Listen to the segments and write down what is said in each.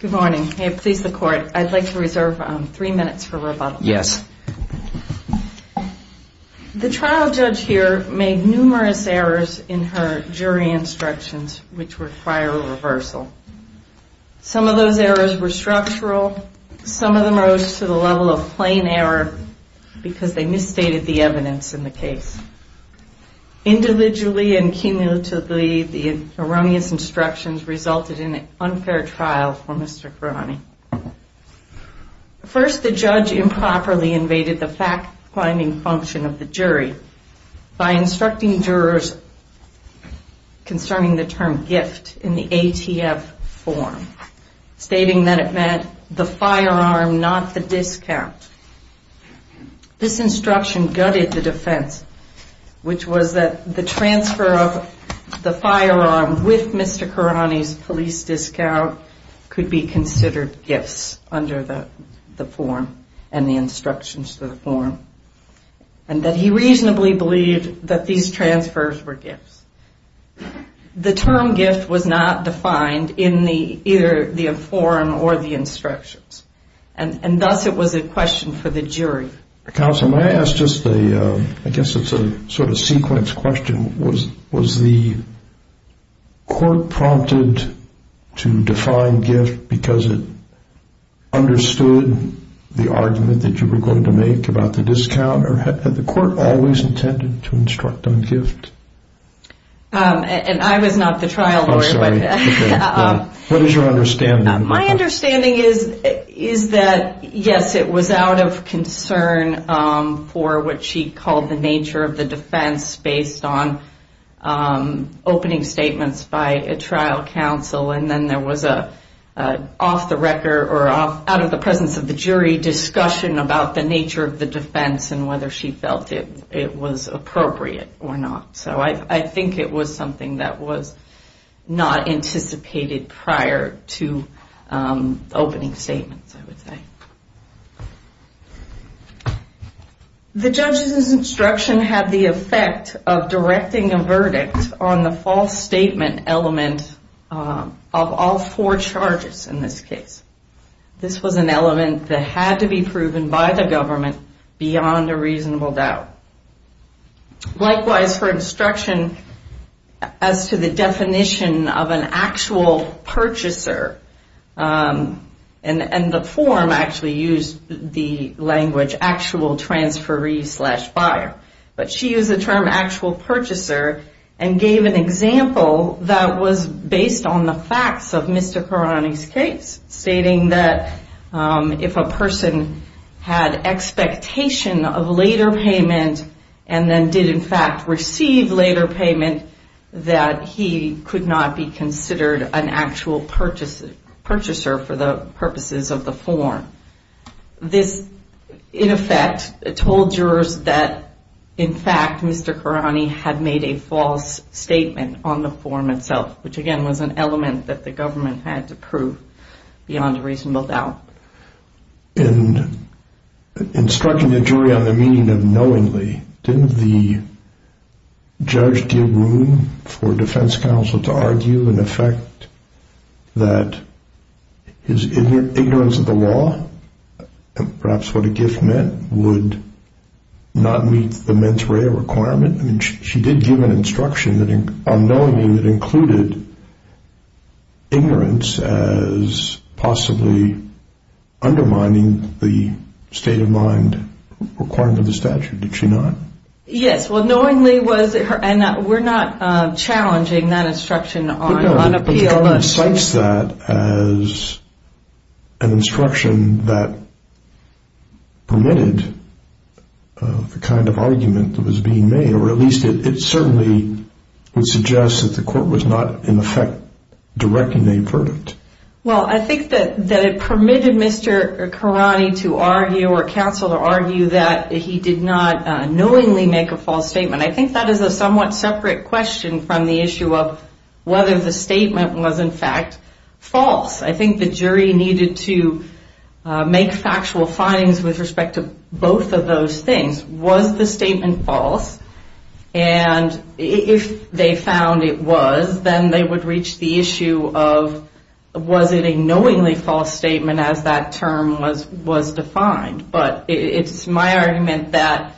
Good morning. I'd like to reserve three minutes for rebuttal. The trial judge here made numerous errors in her jury instructions which require a reversal. Some of those errors were structural, some of them rose to the level of plain error because they misstated the evidence in the case. Individually and cumulatively, the erroneous instructions resulted in an unfair trial for Mr. Karani. First, the judge improperly invaded the fact-finding function of the jury by instructing jurors concerning the term gift in the ATF form, stating that it meant the firearm, not the discount. This instruction gutted the defense, which was that the transfer of the firearm with Mr. Karani's police discount could be considered gifts under the form and that he reasonably believed that these transfers were gifts. The term gift was not defined in either the form or the instructions, and thus it was a question for the jury. Counsel, may I ask just a, I guess it's a sort of sequence question, was the court prompted to define gift because it understood the argument that you were going to make about the discount, or had the court always intended to instruct on gift? And I was not the trial lawyer. What is your understanding? My understanding is that, yes, it was out of concern for what she called the nature of the defense based on opening statements by a trial counsel, and then there was an off-the-record or out-of-the-presence-of-the-jury discussion about the nature of the defense and whether she felt it was appropriate or not. So I think it was something that was not anticipated prior to opening statements, I would say. The judge's instruction had the effect of directing a verdict on the false statement element of all four charges in this case. This was an element that had to be proven by the government beyond a reasonable doubt. Likewise, her instruction as to the definition of an actual purchaser, and the form actually used the language actual transferee slash buyer, but she used the term actual purchaser and gave an example that was based on the facts of Mr. Carani's case. Stating that if a person had expectation of later payment, and then did in fact receive later payment, that he could not be considered an actual purchaser for the purposes of the form. This, in effect, told jurors that in fact Mr. Carani had made a false statement on the form itself, which again was an element that the government had to prove beyond a reasonable doubt. In instructing the jury on the meaning of knowingly, didn't the judge give room for defense counsel to argue in effect that his ignorance of the law, perhaps what a gift meant, would not meet the mens rea requirement? She did give an instruction on knowingly that included ignorance as possibly undermining the state of mind requirement of the statute, did she not? Yes, well knowingly was, and we're not challenging that instruction on appeal. The government cites that as an instruction that permitted the kind of argument that was being made, or at least it certainly would suggest that the court was not in effect directing a verdict. Well, I think that it permitted Mr. Carani to argue or counsel to argue that he did not knowingly make a false statement. I think that is a somewhat separate question from the issue of whether the statement was in fact false. I think the jury needed to make factual findings with respect to both of those things. Was the statement false? And if they found it was, then they would reach the issue of was it a knowingly false statement as that term was defined? But it's my argument that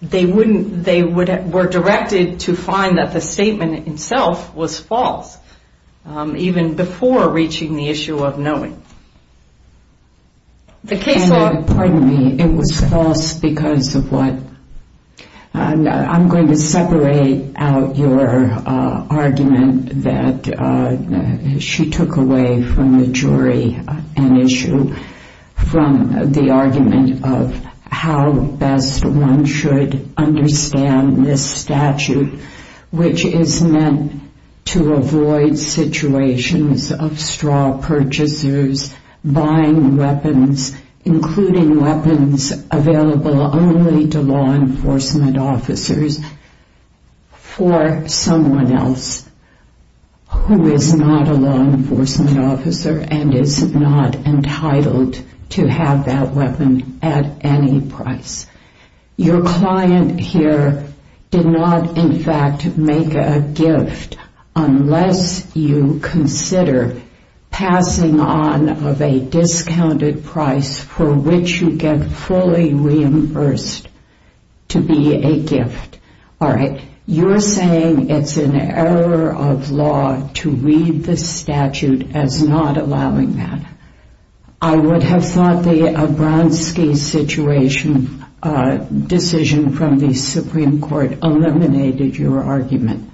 they were directed to find that the statement itself was false, even before reaching the issue of knowing. Pardon me, it was false because of what? I'm going to separate out your argument that she took away from the jury an issue from the argument of how best one should understand this statute, which is meant to avoid situations of straw purchasers buying weapons, including weapons available only to law enforcement officers for someone else who is not a law enforcement officer and is not entitled to have that weapon at any price. Your client here did not in fact make a gift unless you consider passing on of a discounted price for which you get fully reimbursed to be a gift. All right, you're saying it's an error of law to read the statute as not allowing that. I would have thought the Abronski situation decision from the Supreme Court eliminated your argument.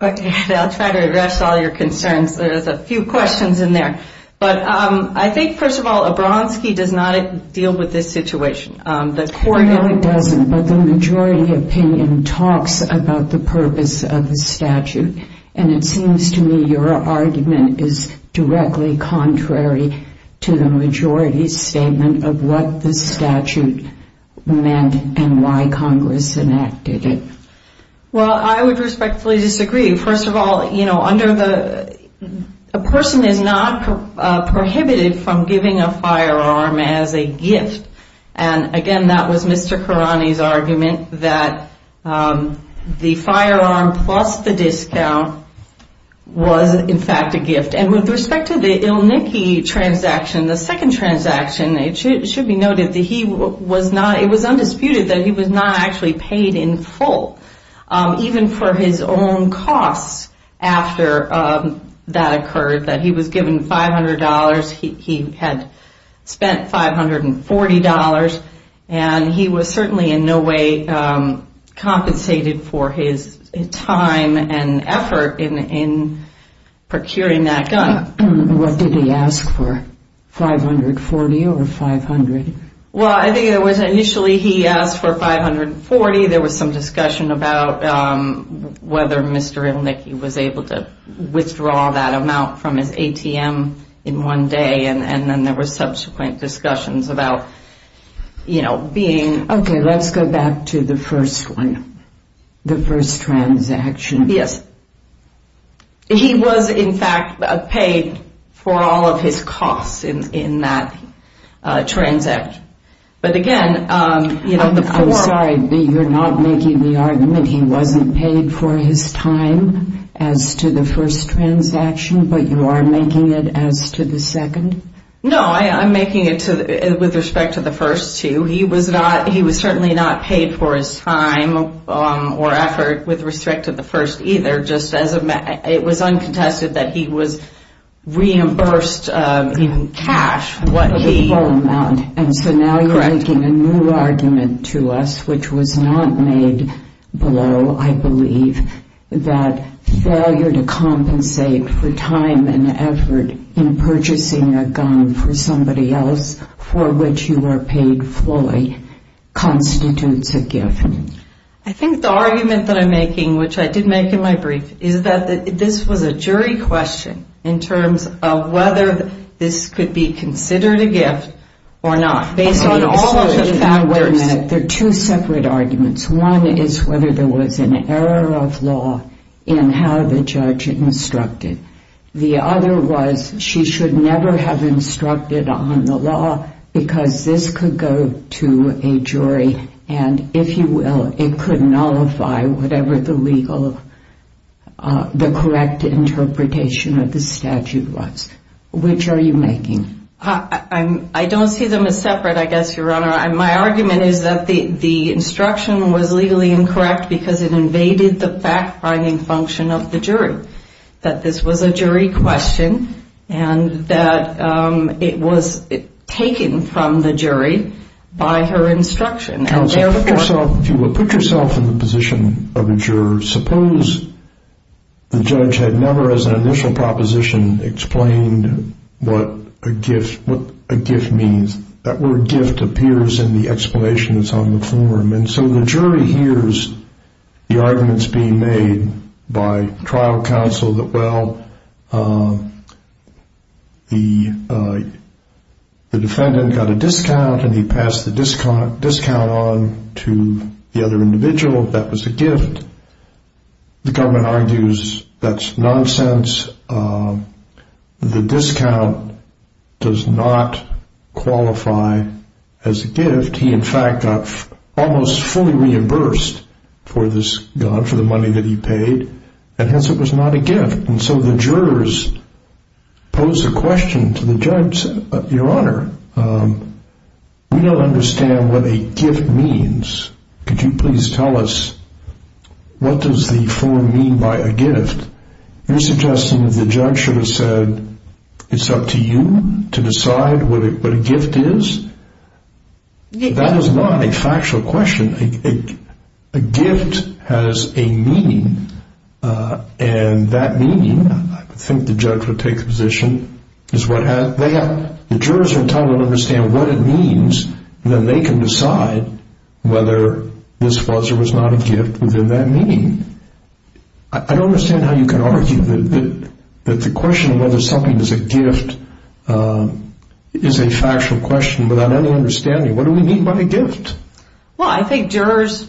Okay, I'll try to address all your concerns. There's a few questions in there. But I think, first of all, Abronski does not deal with this situation. No, he doesn't. But the majority opinion talks about the purpose of the statute. And it seems to me your argument is directly contrary to the majority's statement of what the statute meant and why Congress enacted it. Well, I would respectfully disagree. First of all, a person is not prohibited from giving a firearm as a gift. And, again, that was Mr. Khourani's argument that the firearm plus the discount was in fact a gift. And with respect to the Ilniki transaction, the second transaction, it should be noted that he was not – it was undisputed that he was not actually paid in full. Even for his own costs after that occurred, that he was given $500. He had spent $540. And he was certainly in no way compensated for his time and effort in procuring that gun. What did he ask for, $540 or $500? Well, I think it was initially he asked for $540. There was some discussion about whether Mr. Ilniki was able to withdraw that amount from his ATM in one day. And then there were subsequent discussions about, you know, being – Okay, let's go back to the first one, the first transaction. Yes. He was, in fact, paid for all of his costs in that transaction. But again, you know, the form – I'm sorry, but you're not making the argument he wasn't paid for his time as to the first transaction, but you are making it as to the second? No, I'm making it with respect to the first two. He was not – he was certainly not paid for his time or effort with respect to the first either, just as a – it was uncontested that he was reimbursed in cash what he – And so now you're making a new argument to us, which was not made below, I believe, that failure to compensate for time and effort in purchasing a gun for somebody else for which you were paid fully constitutes a gift. I think the argument that I'm making, which I did make in my brief, is that this was a jury question in terms of whether this could be considered a gift or not, based on all of the factors. There are two separate arguments. One is whether there was an error of law in how the judge instructed. The other was she should never have instructed on the law because this could go to a jury and, if you will, it could nullify whatever the legal – the correct interpretation of the statute was. Which are you making? I don't see them as separate, I guess, Your Honor. My argument is that the instruction was legally incorrect because it invaded the fact-finding function of the jury, that this was a jury question and that it was taken from the jury by her instruction. Counsel, if you will, put yourself in the position of a juror. Suppose the judge had never, as an initial proposition, explained what a gift means. That word gift appears in the explanation that's on the form. And so the jury hears the arguments being made by trial counsel that, well, the defendant got a discount and he passed the discount on to the other individual. That was a gift. The government argues that's nonsense. The discount does not qualify as a gift. He, in fact, got almost fully reimbursed for the money that he paid, and hence it was not a gift. And so the jurors pose a question to the judge and say, Your Honor, we don't understand what a gift means. Could you please tell us what does the form mean by a gift? You're suggesting that the judge should have said it's up to you to decide what a gift is? That is not a factual question. A gift has a meaning, and that meaning, I think the judge would take the position, is what they have. The jurors are entitled to understand what it means, and then they can decide whether this was or was not a gift within that meaning. I don't understand how you can argue that the question of whether something is a gift is a factual question without any understanding. What do we mean by a gift? Well, I think jurors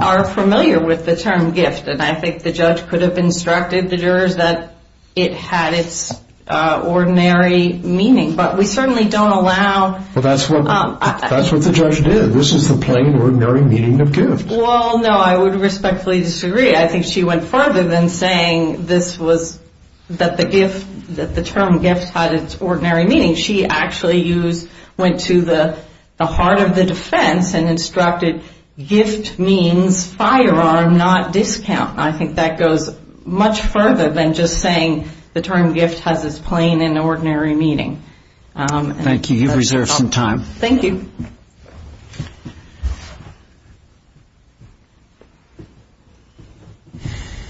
are familiar with the term gift, and I think the judge could have instructed the jurors that it had its ordinary meaning. But we certainly don't allow... Well, that's what the judge did. This is the plain, ordinary meaning of gift. Well, no, I would respectfully disagree. I think she went further than saying that the term gift had its ordinary meaning. She actually went to the heart of the defense and instructed gift means firearm, not discount. I think that goes much further than just saying the term gift has its plain and ordinary meaning. Thank you. You've reserved some time. Thank you.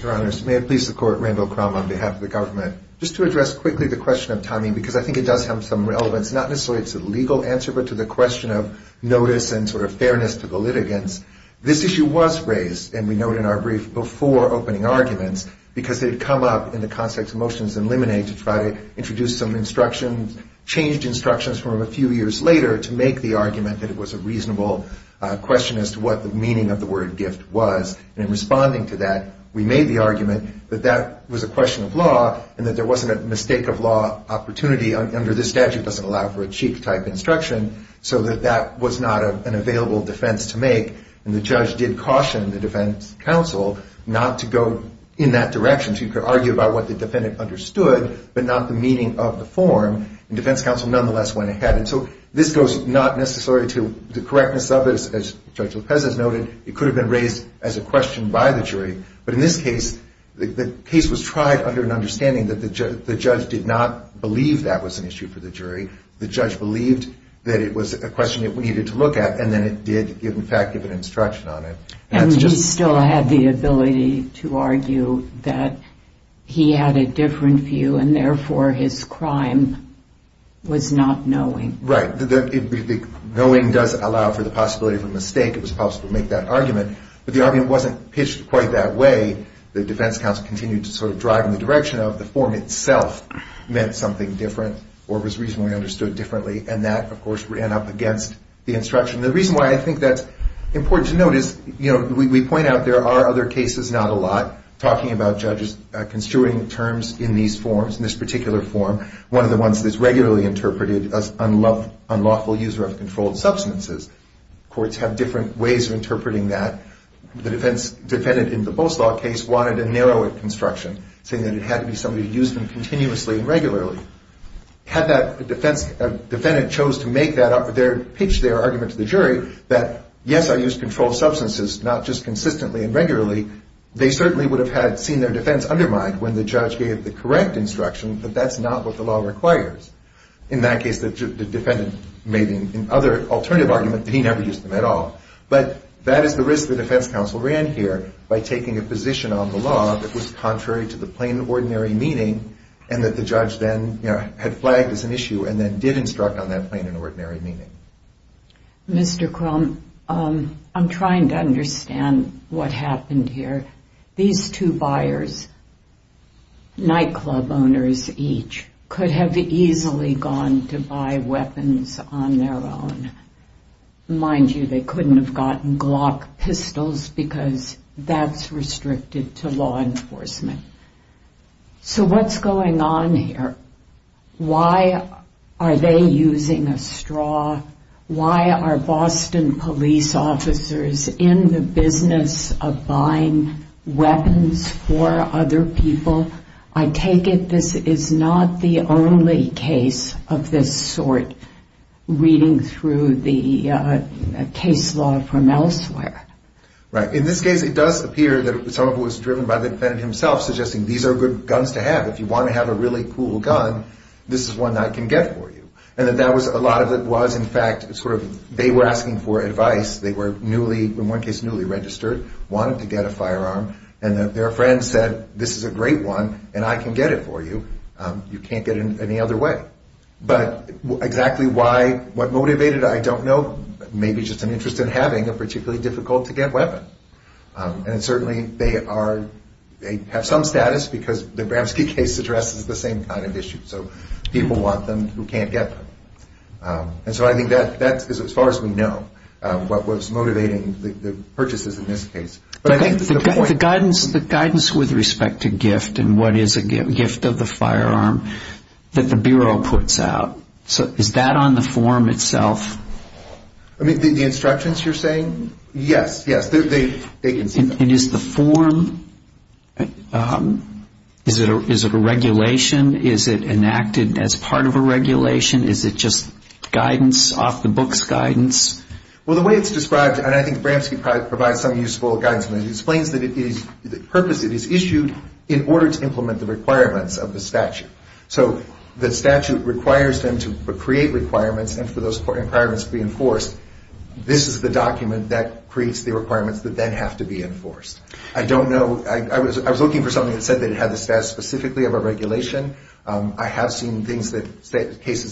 Your Honors, may it please the Court, Randall Crum on behalf of the government. Just to address quickly the question of timing, because I think it does have some relevance, not necessarily to the legal answer, but to the question of notice and sort of fairness to the litigants. This issue was raised, and we note in our brief, before opening arguments, because it had come up in the context of motions in limine to try to introduce some instructions, changed instructions from a few years later to make the argument that it was a reasonable question as to what the meaning of the word gift was. And in responding to that, we made the argument that that was a question of law and that there wasn't a mistake of law opportunity under this statute. It doesn't allow for a cheek-type instruction, so that that was not an available defense to make. And the judge did caution the defense counsel not to go in that direction. She could argue about what the defendant understood, but not the meaning of the form. And defense counsel nonetheless went ahead. So this goes not necessarily to the correctness of it. As Judge Lopez has noted, it could have been raised as a question by the jury. But in this case, the case was tried under an understanding that the judge did not believe that was an issue for the jury. The judge believed that it was a question that we needed to look at, and then it did, in fact, give an instruction on it. And he still had the ability to argue that he had a different view, and therefore his crime was not knowing. Right. Knowing does allow for the possibility of a mistake. It was possible to make that argument. But the argument wasn't pitched quite that way. The defense counsel continued to sort of drive in the direction of the form itself meant something different or was reasonably understood differently, and that, of course, ran up against the instruction. The reason why I think that's important to note is, you know, we point out there are other cases, not a lot, talking about judges construing terms in these forms, in this particular form, one of the ones that's regularly interpreted as unlawful use of controlled substances. Courts have different ways of interpreting that. The defense defendant in the Bolslaw case wanted a narrower construction, saying that it had to be somebody who used them continuously and regularly. Had that defendant chose to pitch their argument to the jury that, yes, I used controlled substances, not just consistently and regularly, they certainly would have seen their defense undermined when the judge gave the correct instruction that that's not what the law requires. In that case, the defendant made an alternative argument that he never used them at all. But that is the risk the defense counsel ran here by taking a position on the law that was contrary to the plain and ordinary meaning, and that the judge then, you know, had flagged as an issue and then did instruct on that plain and ordinary meaning. Mr. Crumb, I'm trying to understand what happened here. These two buyers, nightclub owners each, could have easily gone to buy weapons on their own. Mind you, they couldn't have gotten Glock pistols because that's restricted to law enforcement. So what's going on here? Why are they using a straw? Why are Boston police officers in the business of buying weapons for other people? Well, I take it this is not the only case of this sort reading through the case law from elsewhere. Right. In this case, it does appear that some of it was driven by the defendant himself, suggesting these are good guns to have. If you want to have a really cool gun, this is one I can get for you. And that was a lot of it was, in fact, sort of they were asking for advice. They were newly, in one case, newly registered, wanted to get a firearm, and their friend said, this is a great one and I can get it for you. You can't get it any other way. But exactly why, what motivated it, I don't know. Maybe just an interest in having a particularly difficult-to-get weapon. And certainly they have some status because the Bramski case addresses the same kind of issue. So people want them who can't get them. And so I think that is, as far as we know, what was motivating the purchases in this case. The guidance with respect to gift and what is a gift of the firearm that the Bureau puts out, is that on the form itself? I mean, the instructions you're saying? Yes, yes, they can see that. And is the form, is it a regulation? Is it enacted as part of a regulation? Is it just guidance, off-the-books guidance? Well, the way it's described, and I think Bramski provides some useful guidance, it explains the purpose it is issued in order to implement the requirements of the statute. So the statute requires them to create requirements and for those requirements to be enforced. This is the document that creates the requirements that then have to be enforced. I don't know, I was looking for something that said that it had the status specifically of a regulation. I have seen cases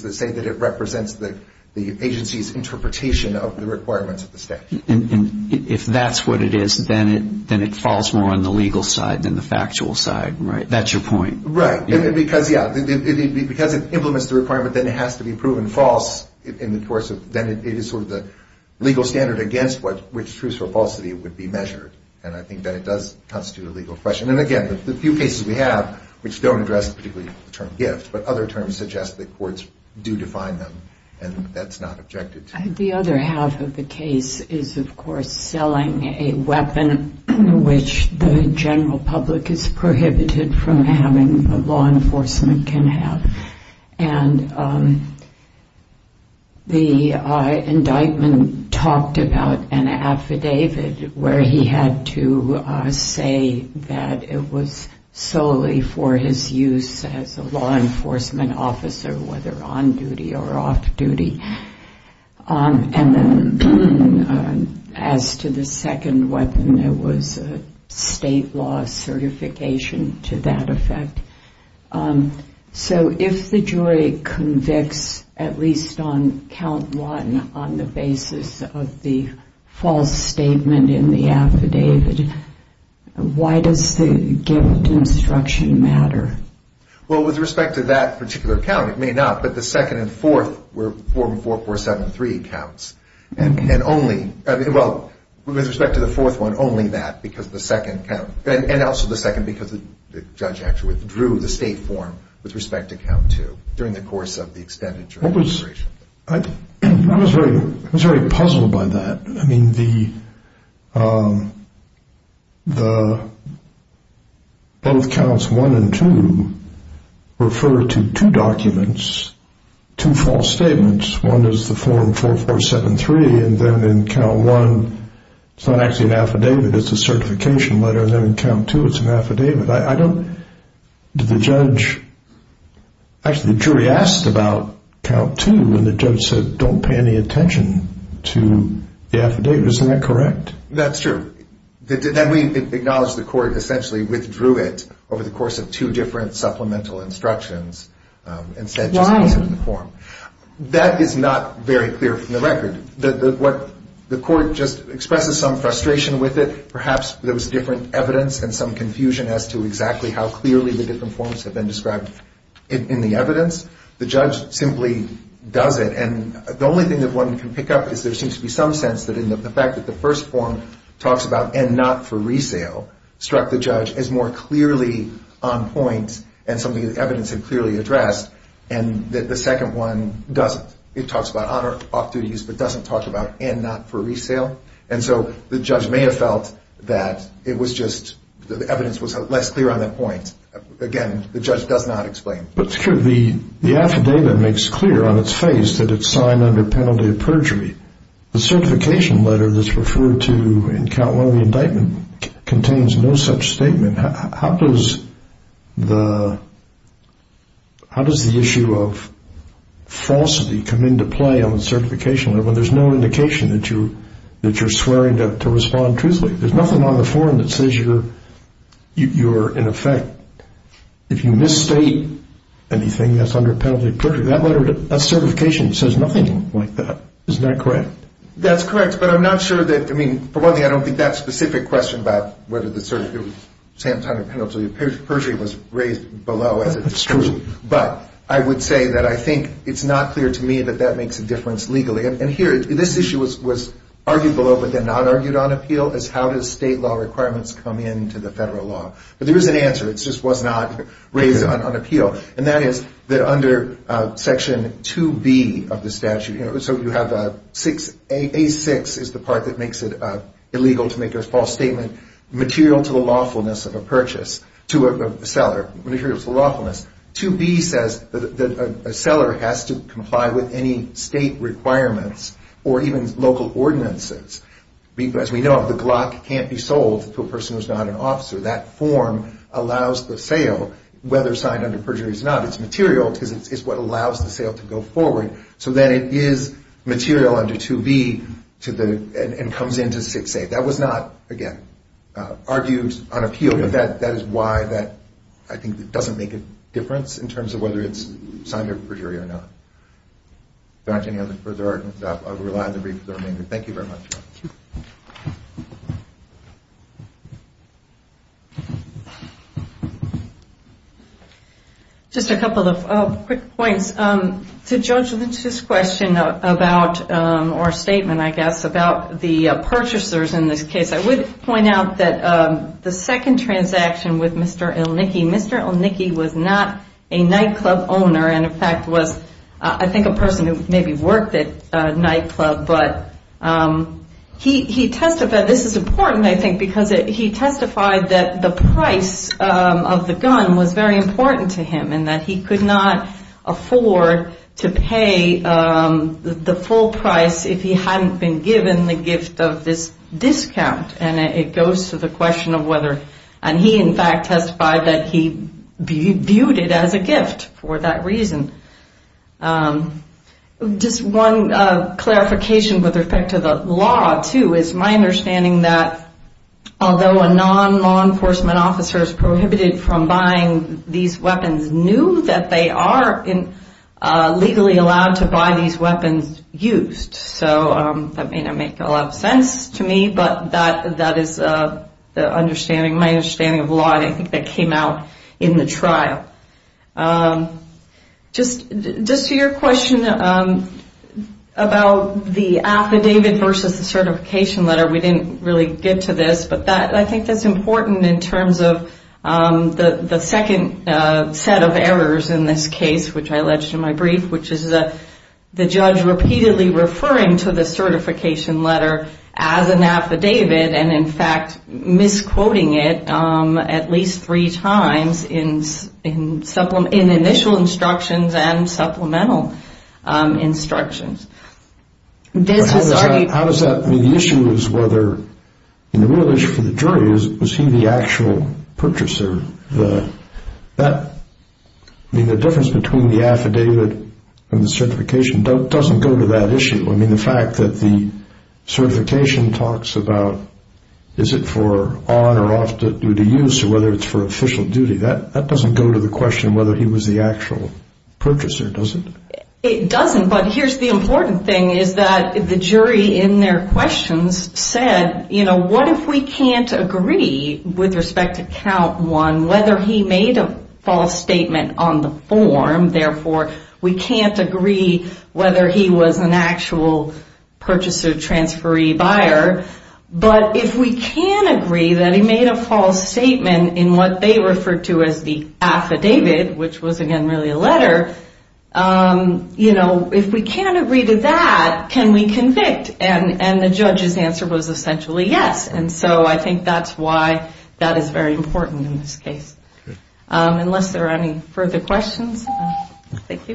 that say that it represents the agency's interpretation of the requirements of the statute. And if that's what it is, then it falls more on the legal side than the factual side, right? That's your point. Right. Because it implements the requirement, then it has to be proven false in the course of, then it is sort of the legal standard against which truth or falsity would be measured. And I think that it does constitute a legal question. And again, the few cases we have which don't address particularly the term gift, but other terms suggest that courts do define them, and that's not objected to. The other half of the case is, of course, selling a weapon which the general public is prohibited from having, but law enforcement can have. And the indictment talked about an affidavit where he had to say that it was solely for his use as a law enforcement officer, whether on duty or off duty. And then as to the second weapon, it was a state law certification to that effect. So if the jury convicts at least on count one on the basis of the false statement in the affidavit, why does the gift instruction matter? Well, with respect to that particular count, it may not. But the second and fourth were 4473 counts. And only, well, with respect to the fourth one, only that because the second count. And also the second because the judge actually withdrew the state form with respect to count two during the course of the extended jury deliberation. I was very puzzled by that. I mean, both counts one and two refer to two documents, two false statements. One is the form 4473, and then in count one, it's not actually an affidavit. It's a certification letter, and then in count two, it's an affidavit. I don't – did the judge – actually, the jury asked about count two, and the judge said don't pay any attention to the affidavit. Isn't that correct? That's true. Then we acknowledge the court essentially withdrew it over the course of two different supplemental instructions and said just use it in the form. Why? That is not very clear from the record. The court just expresses some frustration with it. Perhaps there was different evidence and some confusion as to exactly how clearly the different forms have been described in the evidence. The judge simply does it. And the only thing that one can pick up is there seems to be some sense that in the fact that the first form talks about and not for resale struck the judge as more clearly on point and something the evidence had clearly addressed and that the second one doesn't. It talks about off-duty use but doesn't talk about and not for resale. And so the judge may have felt that it was just the evidence was less clear on that point. Again, the judge does not explain. But the affidavit makes clear on its face that it's signed under penalty of perjury. The certification letter that's referred to in count one of the indictment contains no such statement. How does the issue of falsity come into play on the certification letter when there's no indication that you're swearing to respond truthfully? There's nothing on the form that says you're in effect. If you misstate anything, that's under penalty of perjury. That letter, that certification says nothing like that. Isn't that correct? That's correct, but I'm not sure that, I mean, for one thing, I don't think that's a specific question about whether the certification of penalty of perjury was raised below. It's true. But I would say that I think it's not clear to me that that makes a difference legally. And here, this issue was argued below but then not argued on appeal as how does state law requirements come into the federal law. But there is an answer. It just was not raised on appeal, and that is that under Section 2B of the statute, so you have A6 is the part that makes it illegal to make a false statement, material to the lawfulness of a purchase to a seller, material to the lawfulness. 2B says that a seller has to comply with any state requirements or even local ordinances. As we know, the Glock can't be sold to a person who's not an officer. That form allows the sale, whether signed under perjury or not. It's material because it's what allows the sale to go forward. So then it is material under 2B and comes into 6A. That was not, again, argued on appeal, but that is why that I think doesn't make a difference in terms of whether it's signed under perjury or not. If there aren't any other further arguments, I will rely on the brief for the remainder. Thank you very much. Just a couple of quick points. To judge Lynch's question about or statement, I guess, about the purchasers in this case, I would point out that the second transaction with Mr. Ilnicki, Mr. Ilnicki was not a nightclub owner and in fact was I think a person who maybe worked at a nightclub, but he testified. This is important, I think, because he testified that the price of the gun was very important to him and that he could not afford to pay the full price if he hadn't been given the gift of this discount. And it goes to the question of whether, and he in fact testified that he viewed it as a gift for that reason. Just one clarification with respect to the law, too, is my understanding that although a non-law enforcement officer is prohibited from buying these weapons, knew that they are legally allowed to buy these weapons used. So that may not make a lot of sense to me, but that is my understanding of the law. I think that came out in the trial. Just to your question about the affidavit versus the certification letter, we didn't really get to this, but I think that's important in terms of the second set of errors in this case, which I alleged in my brief, which is the judge repeatedly referring to the certification letter as an affidavit and in fact misquoting it at least three times in initial instructions and supplemental instructions. The issue is whether, and the real issue for the jury is, was he the actual purchaser? The difference between the affidavit and the certification doesn't go to that issue. I mean the fact that the certification talks about is it for on or off-duty use or whether it's for official duty, that doesn't go to the question of whether he was the actual purchaser, does it? It doesn't, but here's the important thing is that the jury in their questions said, what if we can't agree with respect to count one whether he made a false statement on the form, therefore we can't agree whether he was an actual purchaser, transferee, buyer, but if we can agree that he made a false statement in what they referred to as the affidavit, which was again really a letter, you know, if we can't agree to that, can we convict? And the judge's answer was essentially yes. And so I think that's why that is very important in this case. Unless there are any further questions. Thank you.